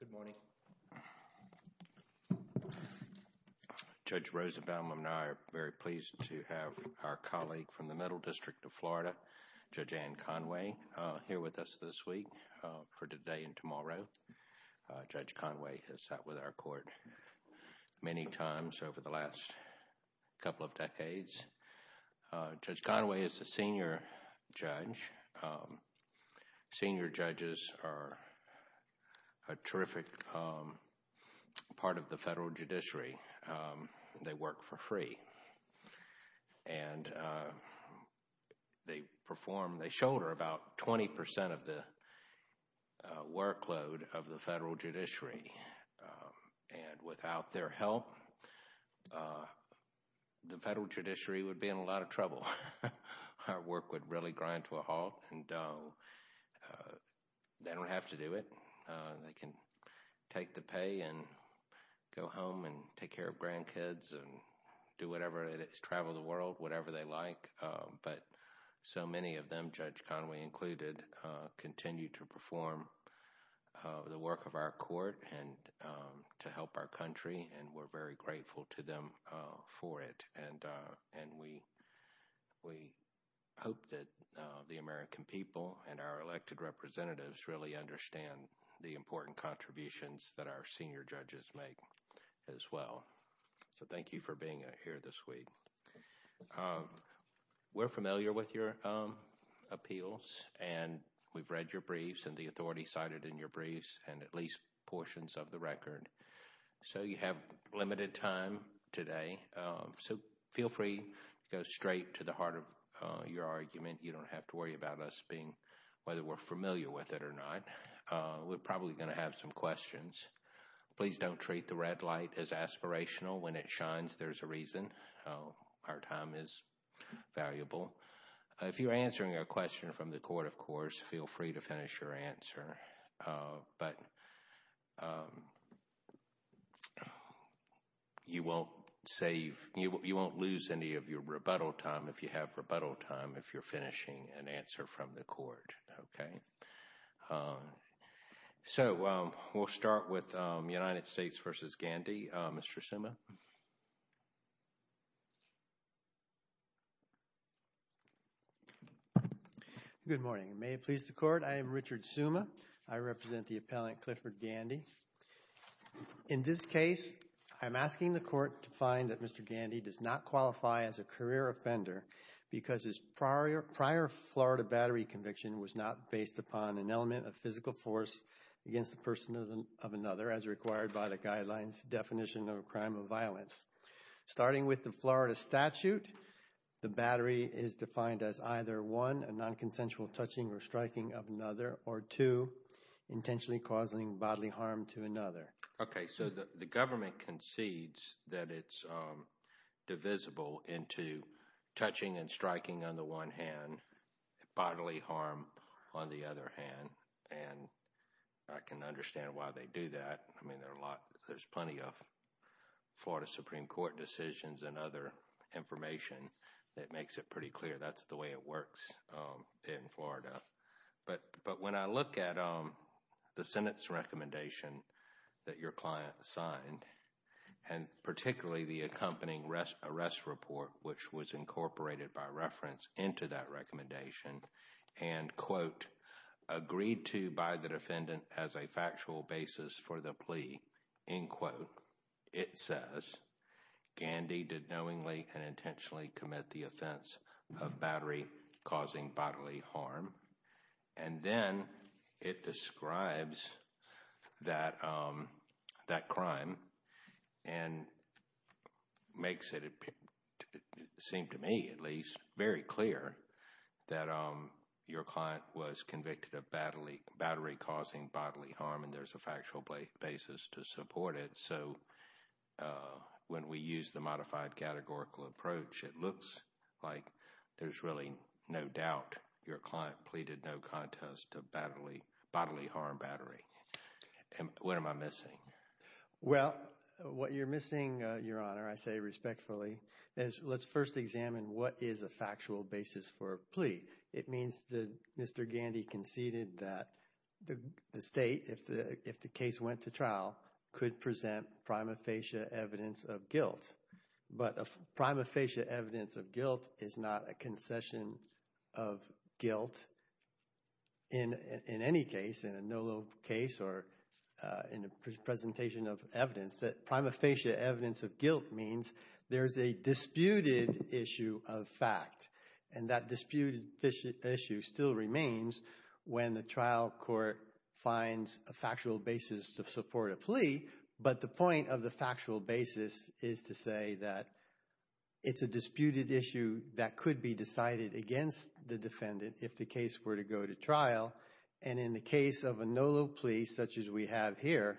Good morning. Judge Roosevelt and I are very pleased to have our colleague from the Middle District of Florida, Judge Ann Conway, here with us this week for today and tomorrow. Judge Conway has sat with our court many times over the last couple of decades. Judge Conway is a senior judge. Senior judges are a terrific part of the federal judiciary. They work for free and they perform, they shoulder about 20% of the workload of the federal judiciary. And without their help, the federal judiciary would be in a lot of trouble. Our work would really grind to a halt and they don't have to do it. They can take the pay and go home and take care of grandkids and do whatever it is, travel the world, whatever they like, but so many of them, Judge Conway included, continue to to help our country and we're very grateful to them for it. And we hope that the American people and our elected representatives really understand the important contributions that our senior judges make as well. So thank you for being here this week. We're familiar with your appeals and we've read your briefs and the authority cited in your briefs and at least portions of the record. So you have limited time today. So feel free to go straight to the heart of your argument. You don't have to worry about us being, whether we're familiar with it or not. We're probably going to have some questions. Please don't treat the red light as aspirational. When it shines, there's a reason. Our time is valuable. If you're answering a question from the court, of course, feel free to finish your answer. But you won't save, you won't lose any of your rebuttal time if you have rebuttal time, if you're finishing an answer from the court. Okay. So we'll start with United States v. Gandhi. Mr. Suma. Good morning. May it please the court. I am Richard Suma. I represent the appellant Clifford Gandhi. In this case, I'm asking the court to find that Mr. Gandhi does not qualify as a career offender because his prior Florida battery conviction was not based upon an element of physical force against the person of another as required by the guidelines definition of a crime of violence. Starting with the Florida statute, the battery is defined as either one, non-consensual touching or striking of another or two, intentionally causing bodily harm to another. Okay. So the government concedes that it's divisible into touching and striking on the one hand, bodily harm on the other hand. And I can understand why they do that. I mean, there's plenty of Florida Supreme Court decisions and other information that makes it pretty clear that's the way it works. In Florida. But when I look at the Senate's recommendation that your client signed, and particularly the accompanying arrest report, which was incorporated by reference into that recommendation and quote, agreed to by the defendant as a factual basis for the plea, in quote, it says, Gandhi did knowingly and intentionally commit the offense of battery causing bodily harm. And then it describes that crime and makes it seem to me at least very clear that your client was convicted of battery causing bodily harm. And there's a factual basis to support it. So when we use the modified categorical approach, it looks like there's really no doubt your client pleaded no contest to bodily harm battery. And what am I missing? Well, what you're missing, Your Honor, I say respectfully, is let's first examine what is a factual basis for a plea. It means that Mr. Gandhi conceded that the state, if the case went to trial, could present prima facie evidence of guilt. But a prima facie evidence of guilt is not a concession of guilt in any case, in a NOLA case or in a presentation of evidence. That prima facie evidence of guilt means there's a disputed issue of fact. And that disputed issue still remains when the trial court finds a factual basis to support a plea. But the point of the factual basis is to say that it's a disputed issue that could be decided against the defendant if the case were to go to trial. And in the case of a NOLA plea such as we have here,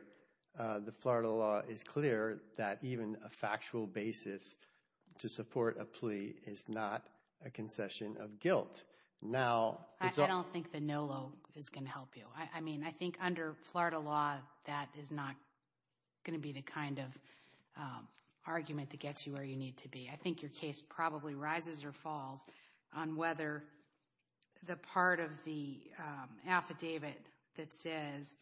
the Florida law is clear that even a factual basis to support a plea is not a concession of guilt. Now, I don't think the NOLA is going to help you. I think under Florida law, that is not going to be the kind of argument that gets you where you need to be. I think your case probably rises or falls on whether the part of the affidavit that says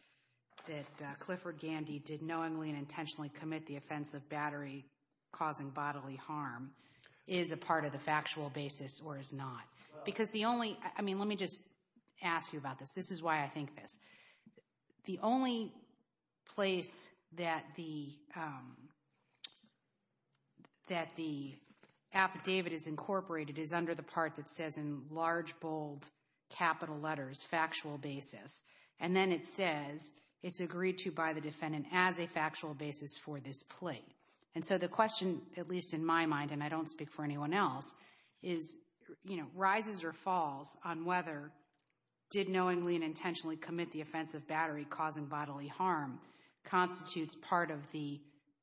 that Clifford Gandhi did knowingly and intentionally commit the offense of battery-causing bodily harm is a part of the factual basis or is not. Because the only—I mean, let me just ask you about this. This is why I think this. The only place that the affidavit is incorporated is under the part that says in large, bold, capital letters, factual basis. And then it says it's agreed to by the defendant as a factual basis for this plea. And so the question, at least in my mind, and I don't speak for anyone else, is, you know, rises or falls on whether did knowingly and intentionally commit the offense of battery-causing bodily harm constitutes part of the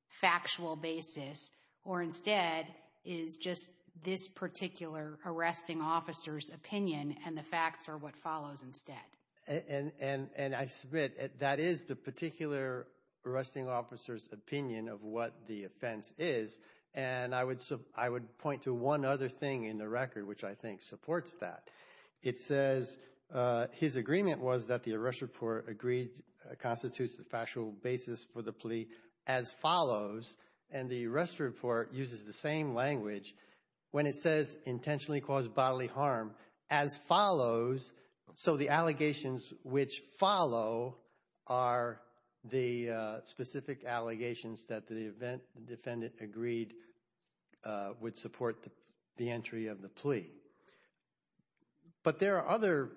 factual basis or instead is just this particular arresting officer's opinion and the facts are what follows instead. And I submit that is the particular arresting officer's opinion of what the offense is. And I would point to one other thing in the record which I think supports that. It says his agreement was that the arrest report agreed constitutes the factual basis for the plea as follows. And the arrest report uses the same language when it says intentionally cause bodily harm as follows. So the allegations which follow are the specific allegations that the event defendant agreed would support the entry of the plea. But there are other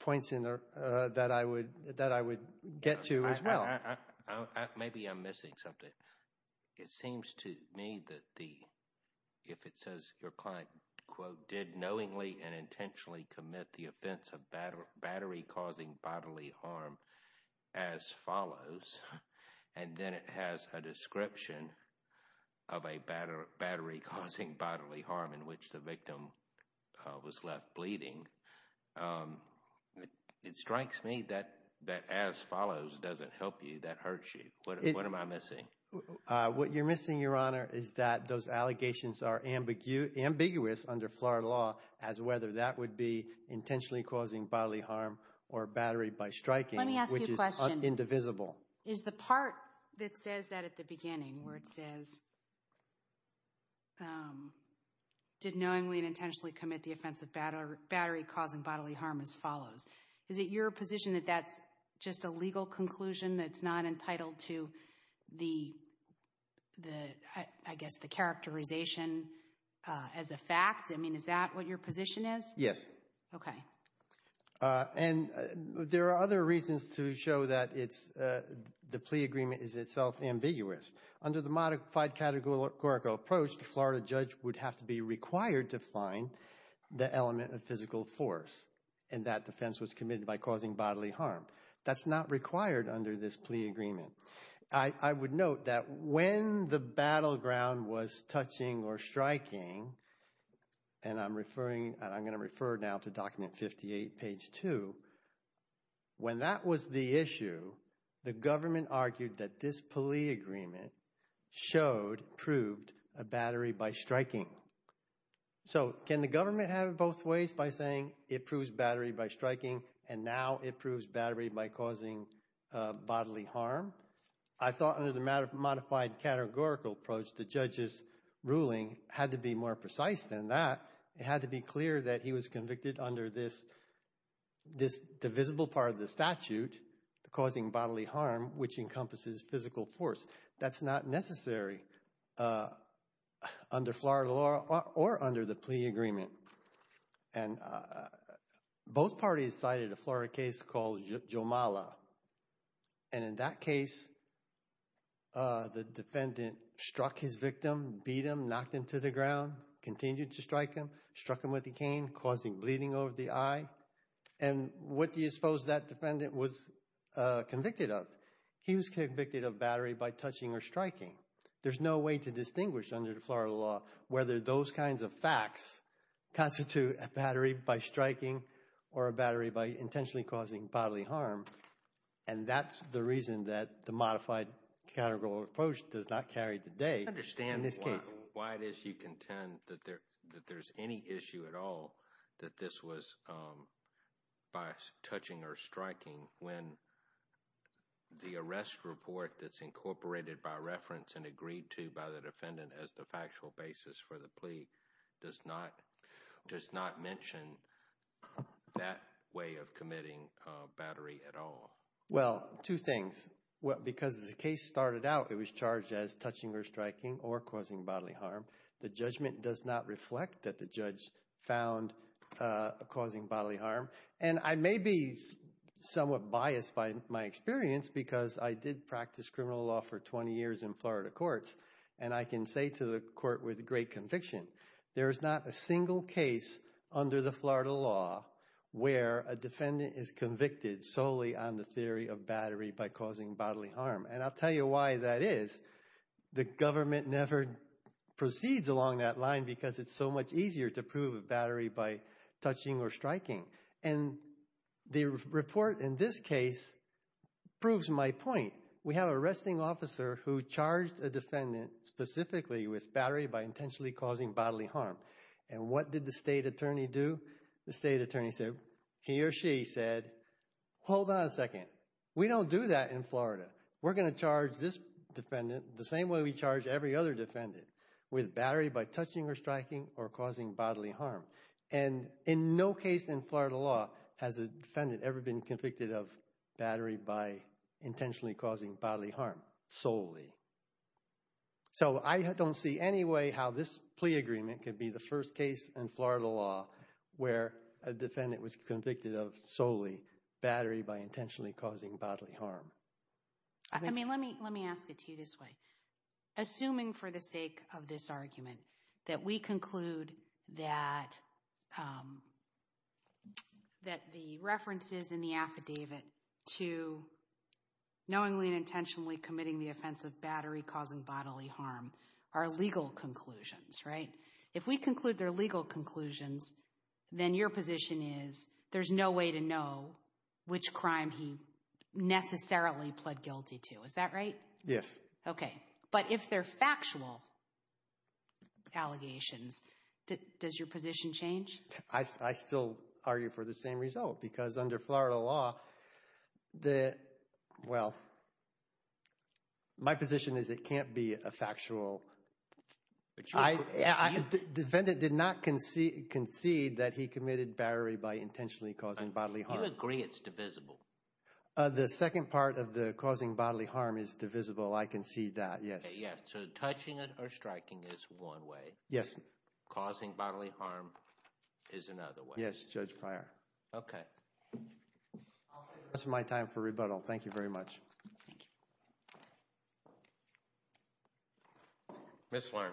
points in there that I would get to as well. Maybe I'm missing something. It seems to me that the, if it says your client, quote, did knowingly and intentionally commit the offense of battery-causing bodily harm as follows. And then it has a description of a battery-causing bodily harm in which the victim was left bleeding. It strikes me that as follows doesn't help you. That hurts you. What am I missing? What you're missing, Your Honor, is that those allegations are ambiguous under Florida law as whether that would be intentionally causing bodily harm or battery by striking. Let me ask you a question. Which is indivisible. Is the part that says that at the beginning where it says did knowingly and intentionally commit the offense of battery-causing bodily harm as follows, is it your position that that's just a legal conclusion that's not entitled to the, I guess, the characterization as a fact? I mean, is that what your position is? Yes. Okay. And there are other reasons to show that it's, the plea agreement is itself ambiguous. Under the modified categorical approach, the Florida judge would have to be required to find the element of physical force and that defense was committed by causing bodily harm. That's not required under this plea agreement. I would note that when the battleground was touching or striking, and I'm referring, I'm going to refer now to document 58, page 2, when that was the issue, the government argued that this plea agreement showed, proved a battery by striking. So, can the government have it both ways by saying it proves battery by striking and now it proves battery by causing bodily harm? I thought under the modified categorical approach, the judge's ruling had to be more precise than that. It had to be clear that he was convicted under this divisible part of the statute causing bodily harm, which encompasses physical force. That's not necessary under Florida law or under the plea agreement. And both parties cited a Florida case called Jomala. And in that case, the defendant struck his victim, beat him, knocked him to the ground, continued to strike him, struck him with a cane, causing bleeding over the eye. And what do you suppose that defendant was convicted of? He was convicted of battery by touching or striking. There's no way to distinguish under the Florida law whether those kinds of facts constitute a battery by striking or a battery by intentionally causing bodily harm. And that's the reason that the modified categorical approach does not carry today. I don't understand why it is you contend that there's any issue at all that this was by touching or striking when the arrest report that's incorporated by reference and agreed to by the defendant as the factual basis for the plea does not mention that way of committing battery at all. Well, two things. Because the case started out, it was charged as touching or striking or causing bodily harm. The judgment does not reflect that the judge found causing bodily harm. And I may be somewhat biased by my experience because I did practice criminal law for 20 years in Florida courts. And I can say to the court with great conviction, there is not a single case under the Florida law where a defendant is convicted solely on the theory of battery by causing bodily harm. And I'll tell you why that is. The government never proceeds along that line because it's so much easier to prove a battery by touching or striking. And the report in this case proves my point. We have an arresting officer who charged a defendant specifically with battery by intentionally causing bodily harm. And what did the state attorney do? The state attorney said, he or she said, hold on a second. We don't do that in Florida. We're going to charge this defendant the same way we charge every other defendant with battery by touching or striking or causing bodily harm. And in no case in Florida law has a defendant ever been convicted of battery by intentionally causing bodily harm solely. So I don't see any way how this plea agreement could be the first case in Florida law where a defendant was convicted of solely battery by intentionally causing bodily harm. I mean, let me let me ask it to you this way. Assuming for the sake of this argument that we conclude that that the references in the battery causing bodily harm are legal conclusions, right? If we conclude they're legal conclusions, then your position is there's no way to know which crime he necessarily pled guilty to. Is that right? Yes. Okay. But if they're factual allegations, does your position change? I still argue for the same result because under Florida law, the well. My position is it can't be a factual. Defendant did not concede that he committed battery by intentionally causing bodily harm. Do you agree it's divisible? The second part of the causing bodily harm is divisible. I concede that. Yes. Yes. So touching it or striking is one way. Yes. Causing bodily harm is another way. Yes. Judge Pryor. Okay. That's my time for rebuttal. Thank you very much. Ms. Lerne.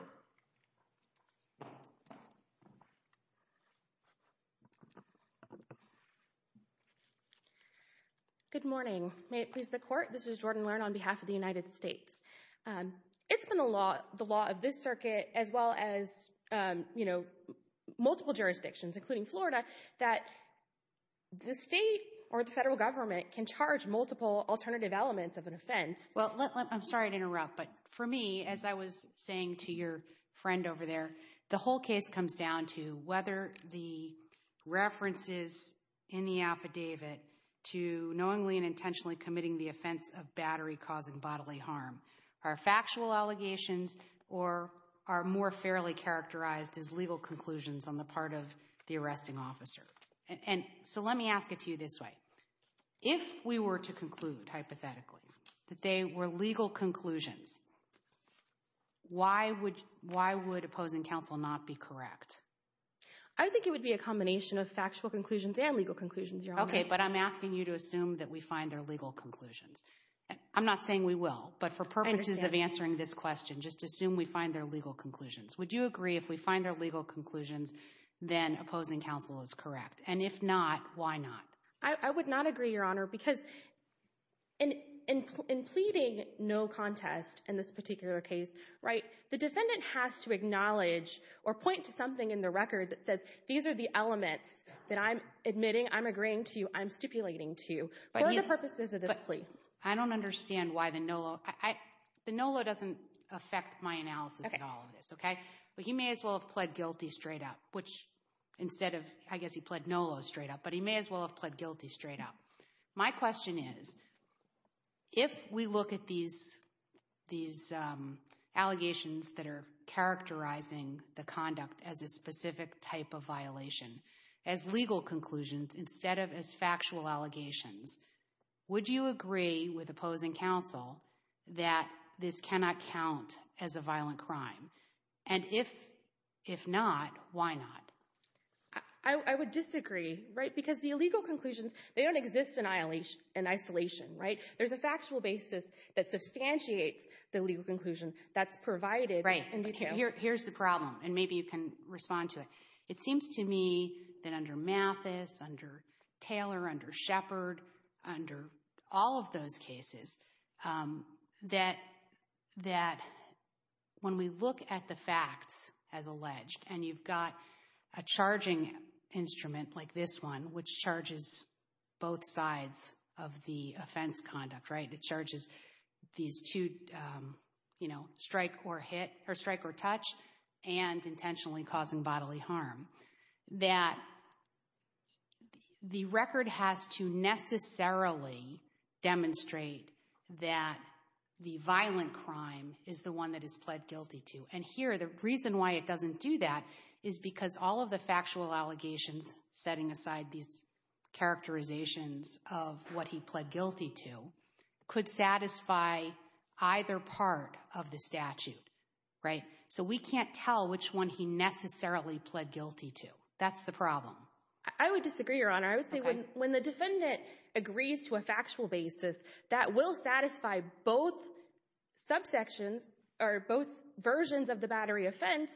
Good morning. May it please the court. This is Jordan Lerne on behalf of the United States. It's been a lot, the law of this circuit, as well as, you know, multiple jurisdictions, including Florida, that the state or the federal government can charge multiple alternative elements of an offense. Well, I'm sorry to interrupt, but for me, as I was saying to your friend over there, the whole case comes down to whether the references in the affidavit to knowingly and intentionally committing the offense of battery causing bodily harm are factual allegations or are more fairly characterized as legal conclusions on the part of the arresting officer. So let me ask it to you this way. If we were to conclude, hypothetically, that they were legal conclusions, why would opposing counsel not be correct? I think it would be a combination of factual conclusions and legal conclusions, Your Honor. Okay, but I'm asking you to assume that we find their legal conclusions. I'm not saying we will, but for purposes of answering this question, just assume we find their legal conclusions. Would you agree if we find their legal conclusions, then opposing counsel is correct? And if not, why not? I would not agree, Your Honor, because in pleading no contest in this particular case, right, the defendant has to acknowledge or point to something in the record that says these are the elements that I'm admitting, I'm agreeing to, I'm stipulating to, for the purposes of this plea. I don't understand why the NOLO, the NOLO doesn't affect my analysis at all of this, okay? But he may as well have pled guilty straight up, which instead of, I guess he pled NOLO straight up, but he may as well have pled guilty straight up. My question is, if we look at these allegations that are characterizing the conduct as a specific type of violation, as legal conclusions instead of as factual allegations, would you agree with opposing counsel that this cannot count as a violent crime? And if not, why not? I would disagree, right, because the illegal conclusions, they don't exist in isolation, right? There's a factual basis that substantiates the legal conclusion that's provided in detail. Here's the problem, and maybe you can respond to it. It seems to me that under Mathis, under Taylor, under Shepard, under all of those cases, that when we look at the facts as alleged, and you've got a charging instrument like this one, which charges both sides of the offense conduct, right? It charges these two, you know, strike or hit, or strike or touch, and intentionally causing bodily harm, that the record has to necessarily demonstrate that the violent crime is the one that is pled guilty to. And here, the reason why it doesn't do that is because all of the factual allegations setting aside these characterizations of what he pled guilty to could satisfy either part of the statute, right? So we can't tell which one he necessarily pled guilty to. That's the problem. I would disagree, Your Honor. I would say when the defendant agrees to a factual basis that will satisfy both subsections, or both versions of the battery offense,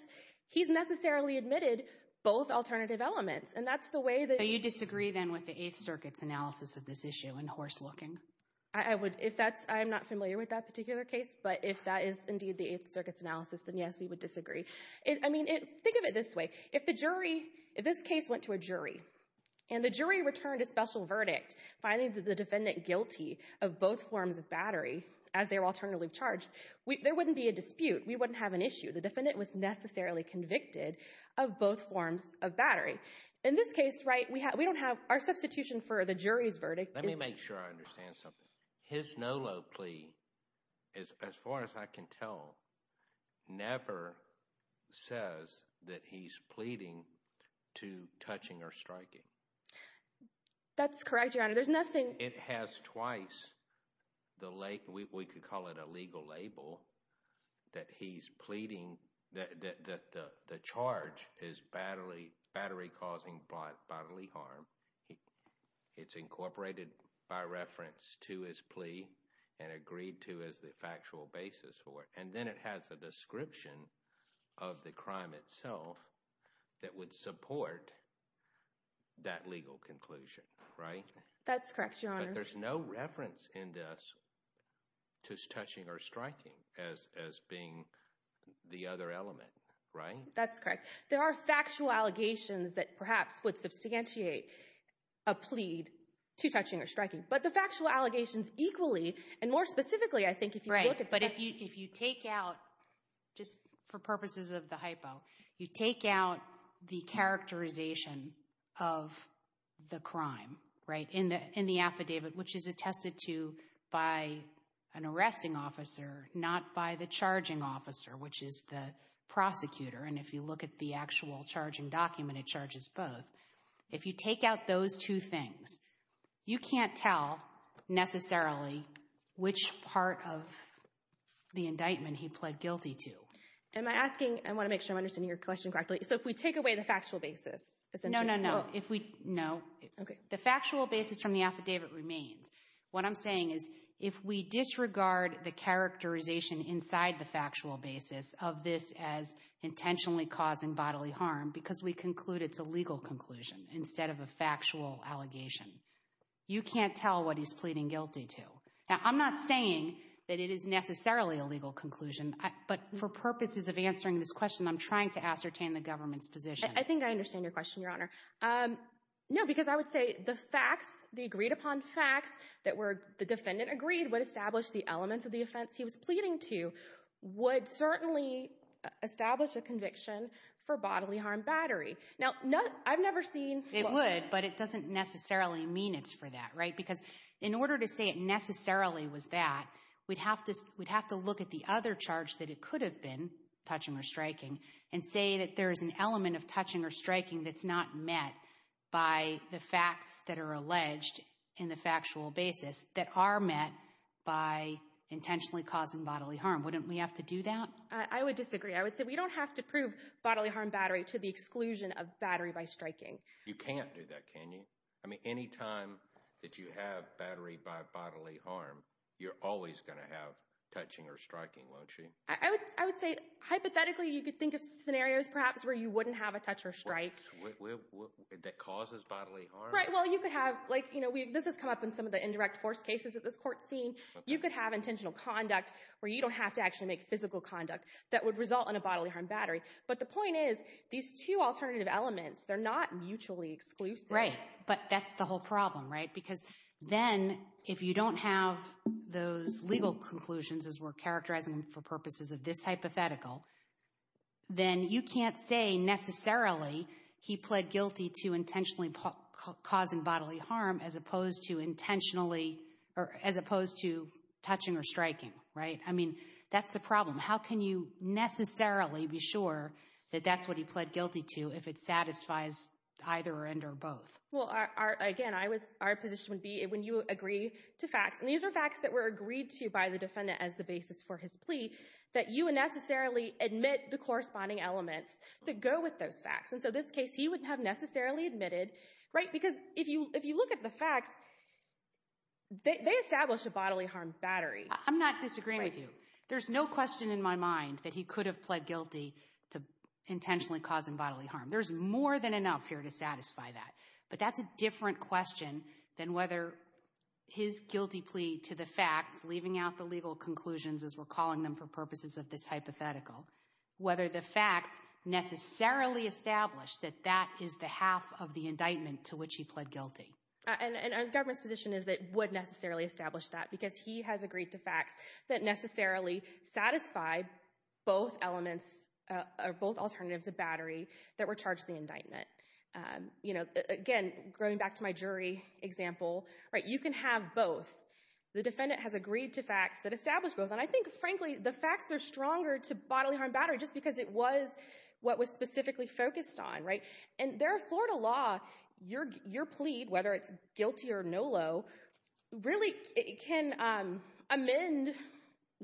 he's necessarily admitted both alternative elements. You disagree, then, with the Eighth Circuit's analysis of this issue and horse looking? I'm not familiar with that particular case, but if that is indeed the Eighth Circuit's analysis, then yes, we would disagree. Think of it this way. If this case went to a jury, and the jury returned a special verdict, finding the defendant guilty of both forms of battery as their alternative charge, there wouldn't be a dispute. We wouldn't have an issue. The defendant was necessarily convicted of both forms of battery. In this case, right, we don't have our substitution for the jury's verdict. Let me make sure I understand something. His no low plea, as far as I can tell, never says that he's pleading to touching or striking. That's correct, Your Honor. There's nothing- It has twice the, we could call it a legal label, that he's pleading that the charge is battery causing bodily harm. It's incorporated by reference to his plea and agreed to as the factual basis for it, and then it has a description of the crime itself that would support that legal conclusion, right? That's correct, Your Honor. But there's no reference in this to touching or striking as being the other element, right? That's correct. There are factual allegations that perhaps would substantiate a plea to touching or striking, but the factual allegations equally, and more specifically, I think if you look at- Right, but if you take out, just for purposes of the hypo, you take out the characterization of the crime, right, in the affidavit, which is attested to by an arresting officer, not by the charging officer, which is the prosecutor. And if you look at the actual charging document, it charges both. If you take out those two things, you can't tell necessarily which part of the indictment he pled guilty to. Am I asking, I want to make sure I'm understanding your question correctly. So if we take away the factual basis, essentially- No, no, no. If we- No. Okay. The factual basis from the affidavit remains. What I'm saying is if we disregard the characterization inside the factual basis of this as intentionally causing bodily harm because we conclude it's a legal conclusion instead of a factual allegation, you can't tell what he's pleading guilty to. Now, I'm not saying that it is necessarily a legal conclusion, but for purposes of answering this question, I'm trying to ascertain the government's position. I think I understand your question, Your Honor. No, because I would say the facts, the agreed-upon facts that were, the defendant agreed would establish the elements of the offense he was pleading to would certainly establish a conviction for bodily harm battery. Now, I've never seen- It would, but it doesn't necessarily mean it's for that, right? Because in order to say it necessarily was that, we'd have to look at the other charge that it could have been, touching or striking, and say that there is an element of touching or striking that's not met by the facts that are alleged in the factual basis that are met by intentionally causing bodily harm. Wouldn't we have to do that? I would disagree. I would say we don't have to prove bodily harm battery to the exclusion of battery by striking. You can't do that, can you? I mean, any time that you have battery by bodily harm, you're always going to have touching or striking, won't you? I would say, hypothetically, you could think of scenarios perhaps where you wouldn't have a touch or strike. That causes bodily harm? Right, well, you could have, like, you know, this has come up in some of the indirect force cases that this Court's seen. You could have intentional conduct where you don't have to actually make physical conduct that would result in a bodily harm battery. But the point is, these two alternative elements, they're not mutually exclusive. Right, but that's the whole problem, right? Because then, if you don't have those legal conclusions, as we're characterizing them for purposes of this hypothetical, then you can't say, necessarily, he pled guilty to intentionally causing bodily harm as opposed to intentionally, or as opposed to touching or striking, right? I mean, that's the problem. How can you necessarily be sure that that's what he pled guilty to if it satisfies either end or both? Well, again, our position would be, when you agree to facts, and these are facts that were agreed to by the defendant as the basis for his plea, that you would necessarily admit the corresponding elements that go with those facts. So this case, he would have necessarily admitted, right? Because if you look at the facts, they establish a bodily harm battery. I'm not disagreeing with you. There's no question in my mind that he could have pled guilty to intentionally causing bodily harm. There's more than enough here to satisfy that. But that's a different question than whether his guilty plea to the facts, leaving out the legal conclusions, as we're calling them for purposes of this hypothetical, whether the facts necessarily establish that that is the half of the indictment to which he pled guilty. And our government's position is that it would necessarily establish that because he has agreed to facts that necessarily satisfy both elements, or both alternatives of battery that were charged in the indictment. You know, again, going back to my jury example, right? You can have both. The defendant has agreed to facts that establish both. And I think, frankly, the facts are stronger to bodily harm battery just because it was what was specifically focused on, right? And there are Florida law, your plea, whether it's guilty or NOLO, really can amend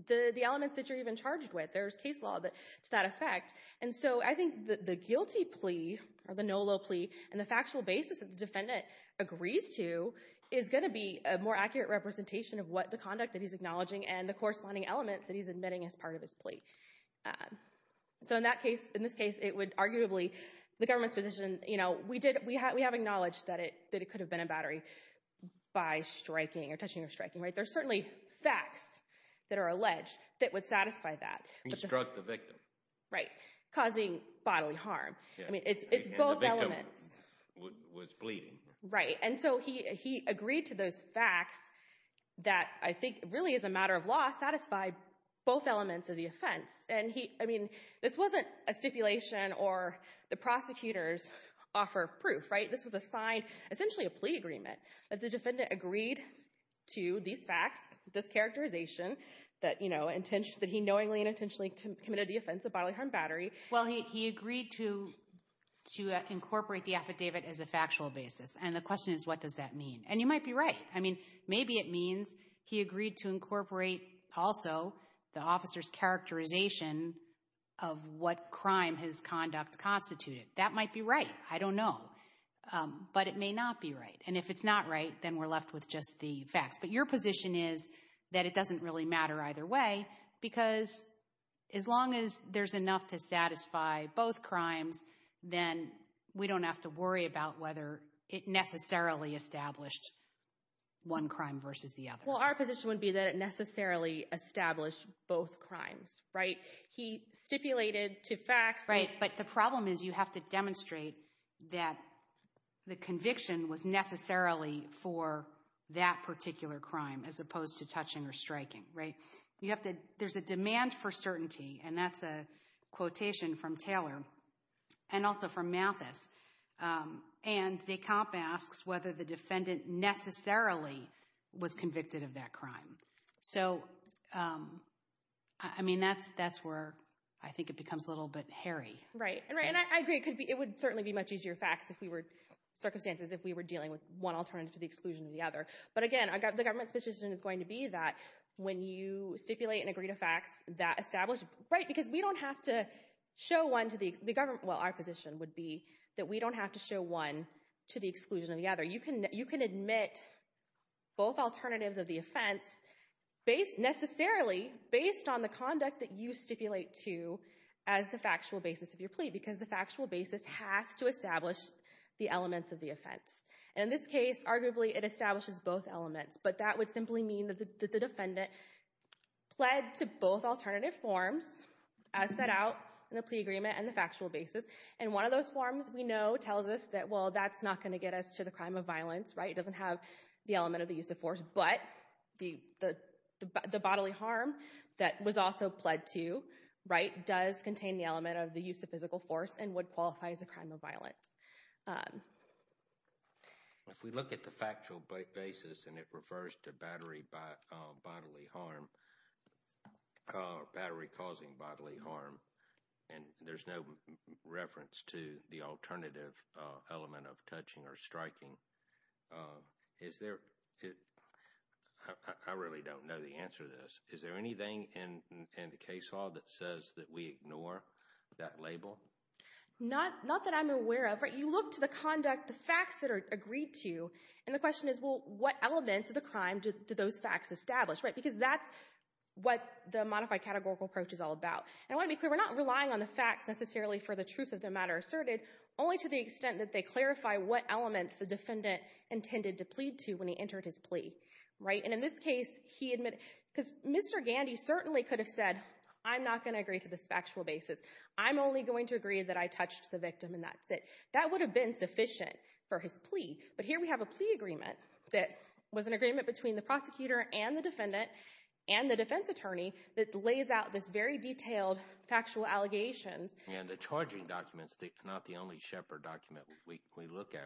the elements that you're even charged with. There's case law to that effect. And so I think the guilty plea, or the NOLO plea, and the factual basis that the defendant agrees to is going to be a more accurate representation of what the conduct that he's acknowledging So in that case, in this case, it would arguably, the government's position, you know, we have acknowledged that it could have been a battery by striking or touching or striking, right? There's certainly facts that are alleged that would satisfy that. He struck the victim. Right. Causing bodily harm. I mean, it's both elements. And the victim was bleeding. Right. And so he agreed to those facts that I think really, as a matter of law, satisfy both elements of the offense. And he, I mean, this wasn't a stipulation or the prosecutor's offer of proof, right? This was a sign, essentially a plea agreement, that the defendant agreed to these facts, this characterization that, you know, that he knowingly and intentionally committed the offense of bodily harm battery. Well, he agreed to incorporate the affidavit as a factual basis. And the question is, what does that mean? And you might be right. I mean, maybe it means he agreed to incorporate also the officer's characterization of what crime his conduct constituted. That might be right. I don't know. But it may not be right. And if it's not right, then we're left with just the facts. But your position is that it doesn't really matter either way. Because as long as there's enough to satisfy both crimes, then we don't have to worry about whether it necessarily established one crime versus the other. Well, our position would be that it necessarily established both crimes, right? He stipulated to facts. Right. But the problem is you have to demonstrate that the conviction was necessarily for that particular crime as opposed to touching or striking, right? You have to, there's a demand for certainty. And that's a quotation from Taylor and also from Mathis. And de Camp asks whether the defendant necessarily was convicted of that crime. So, I mean, that's where I think it becomes a little bit hairy. Right. And I agree, it would certainly be much easier facts if we were, circumstances if we were dealing with one alternative to the exclusion of the other. But again, the government's position is going to be that when you stipulate and agree to facts that establish, right? Because we don't have to show one to the government. Well, our position would be that we don't have to show one to the exclusion of the other. You can admit both alternatives of the offense based, necessarily based on the conduct that you stipulate to as the factual basis of your plea. Because the factual basis has to establish the elements of the offense. And in this case, arguably, it establishes both elements. But that would simply mean that the defendant pled to both alternative forms as set out in the plea agreement and the factual basis. And one of those forms we know tells us that, well, that's not going to get us to the crime of violence, right? It doesn't have the element of the use of force. But the bodily harm that was also pled to, right, does contain the element of the use of physical force and would qualify as a crime of violence. If we look at the factual basis and it refers to bodily harm, battery causing bodily harm, and there's no reference to the alternative element of touching or striking, is there, I really don't know the answer to this. Is there anything in the case law that says that we ignore that label? Not that I'm aware of. You look to the conduct, the facts that are agreed to, and the question is, well, what elements of the crime do those facts establish, right? Because that's what the modified categorical approach is all about. And I want to be clear, we're not relying on the facts necessarily for the truth of the matter asserted, only to the extent that they clarify what elements the defendant intended to plead to when he entered his plea, right? And in this case, he admitted, because Mr. Gandhi certainly could have said, I'm not going to agree to this factual basis. I'm only going to agree that I touched the victim and that's it. That would have been sufficient for his plea. But here we have a plea agreement that was an agreement between the prosecutor and the defense attorney that lays out this very detailed factual allegations. And the charging documents, they're not the only shepherd document we look at.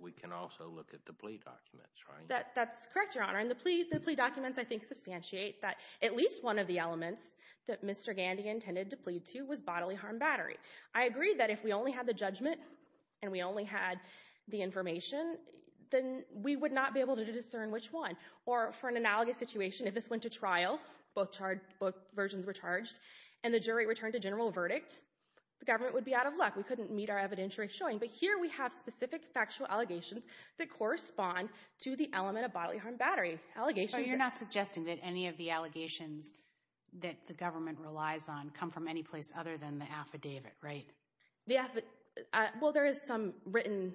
We can also look at the plea documents, right? That's correct, Your Honor. And the plea documents, I think, substantiate that at least one of the elements that Mr. Gandhi intended to plead to was bodily harm battery. I agree that if we only had the judgment and we only had the information, then we would not be able to discern which one. Or for an analogous situation, if this went to trial, both versions were charged, and the jury returned a general verdict, the government would be out of luck. We couldn't meet our evidentiary showing. But here we have specific factual allegations that correspond to the element of bodily harm battery. You're not suggesting that any of the allegations that the government relies on come from any place other than the affidavit, right? Well, there is some written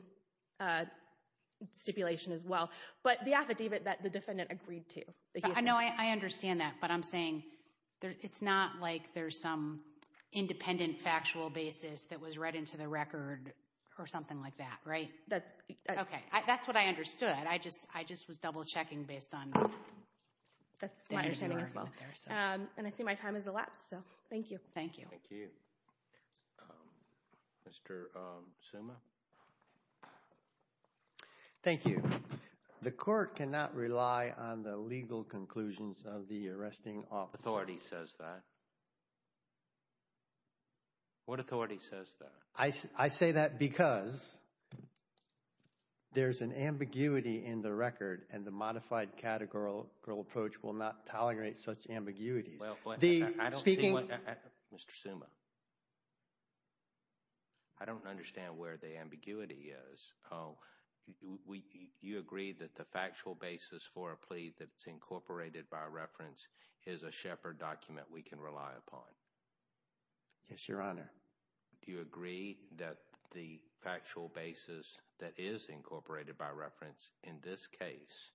stipulation as well. But the affidavit that the defendant agreed to. I know. I understand that. But I'm saying it's not like there's some independent factual basis that was read into the record or something like that, right? That's okay. That's what I understood. I just was double-checking based on... That's my understanding as well. And I see my time has elapsed. So thank you. Thank you. Mr. Suma? Thank you. The court cannot rely on the legal conclusions of the arresting officer. What authority says that? What authority says that? I say that because there's an ambiguity in the record, and the modified categorical approach will not tolerate such ambiguities. Mr. Suma? I don't understand where the ambiguity is. Oh, you agree that the factual basis for a plea that's incorporated by reference is a Shepard document we can rely upon? Yes, Your Honor. Do you agree that the factual basis that is incorporated by reference in this case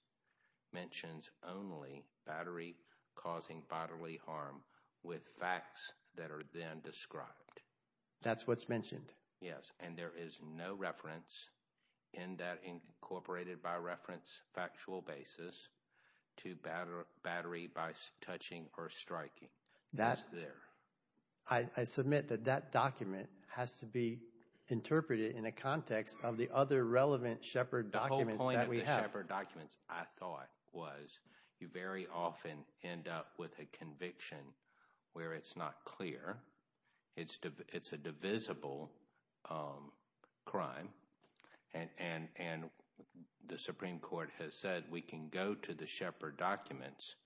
mentions only battery causing bodily harm with facts that are then described? That's what's mentioned. Yes, and there is no reference in that incorporated by reference factual basis to battery by touching or striking that's there. I submit that that document has to be interpreted in a context of the other relevant Shepard documents that we have. The whole point of the Shepard documents, I thought, was you very often end up with a conviction where it's not clear. It's a divisible crime, and the Supreme Court has said we can go to the Shepard documents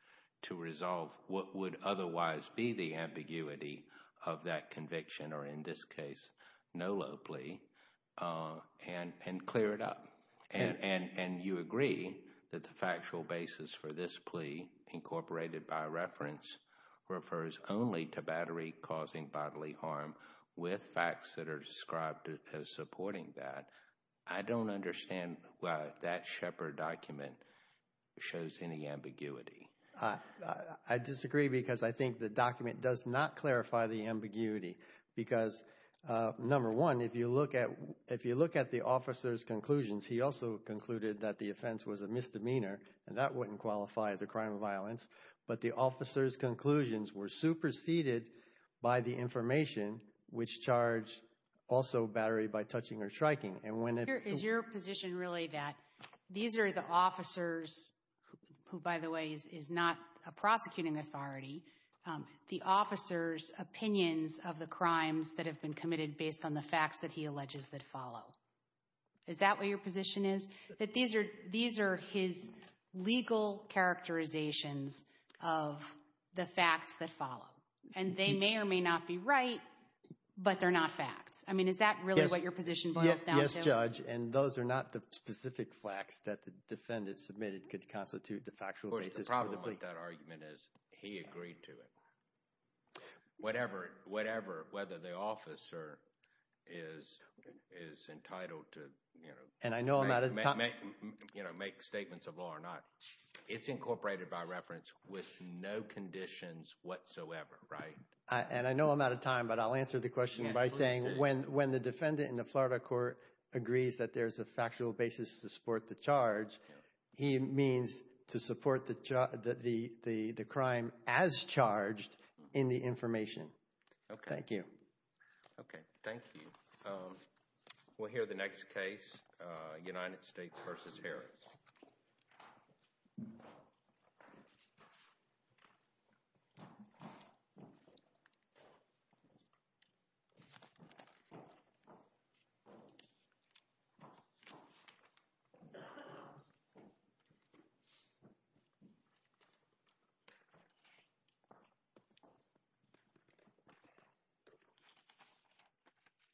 to resolve what would otherwise be the ambiguity of that conviction, or in this case, no low plea, and clear it up. And you agree that the factual basis for this plea incorporated by reference refers only to battery causing bodily harm with facts that are described as supporting that. I don't understand why that Shepard document shows any ambiguity. I disagree because I think the document does not clarify the ambiguity because, number one, if you look at the officer's conclusions, he also concluded that the offense was a misdemeanor, and that wouldn't qualify as a crime of violence. But the officer's conclusions were superseded by the information, which charged also battery by touching or striking. And when it— Is your position really that these are the officers, who, by the way, is not a prosecuting authority, the officer's opinions of the crimes that have been committed based on the facts that he alleges that follow? Is that what your position is? That these are his legal characterizations of the facts that follow. And they may or may not be right, but they're not facts. I mean, is that really what your position boils down to? Yes, Judge. And those are not the specific facts that the defendant submitted could constitute the factual basis for the plea. Of course, the problem with that argument is he agreed to it. Whatever, whether the officer is entitled to make statements of law or not, it's incorporated by reference with no conditions whatsoever, right? And I know I'm out of time, but I'll answer the question by saying, when the defendant in the Florida court agrees that there's a factual basis to support the charge, he means to support the crime as charged in the information. Okay. Thank you. Okay. Thank you. We'll hear the next case, United States v. Harris.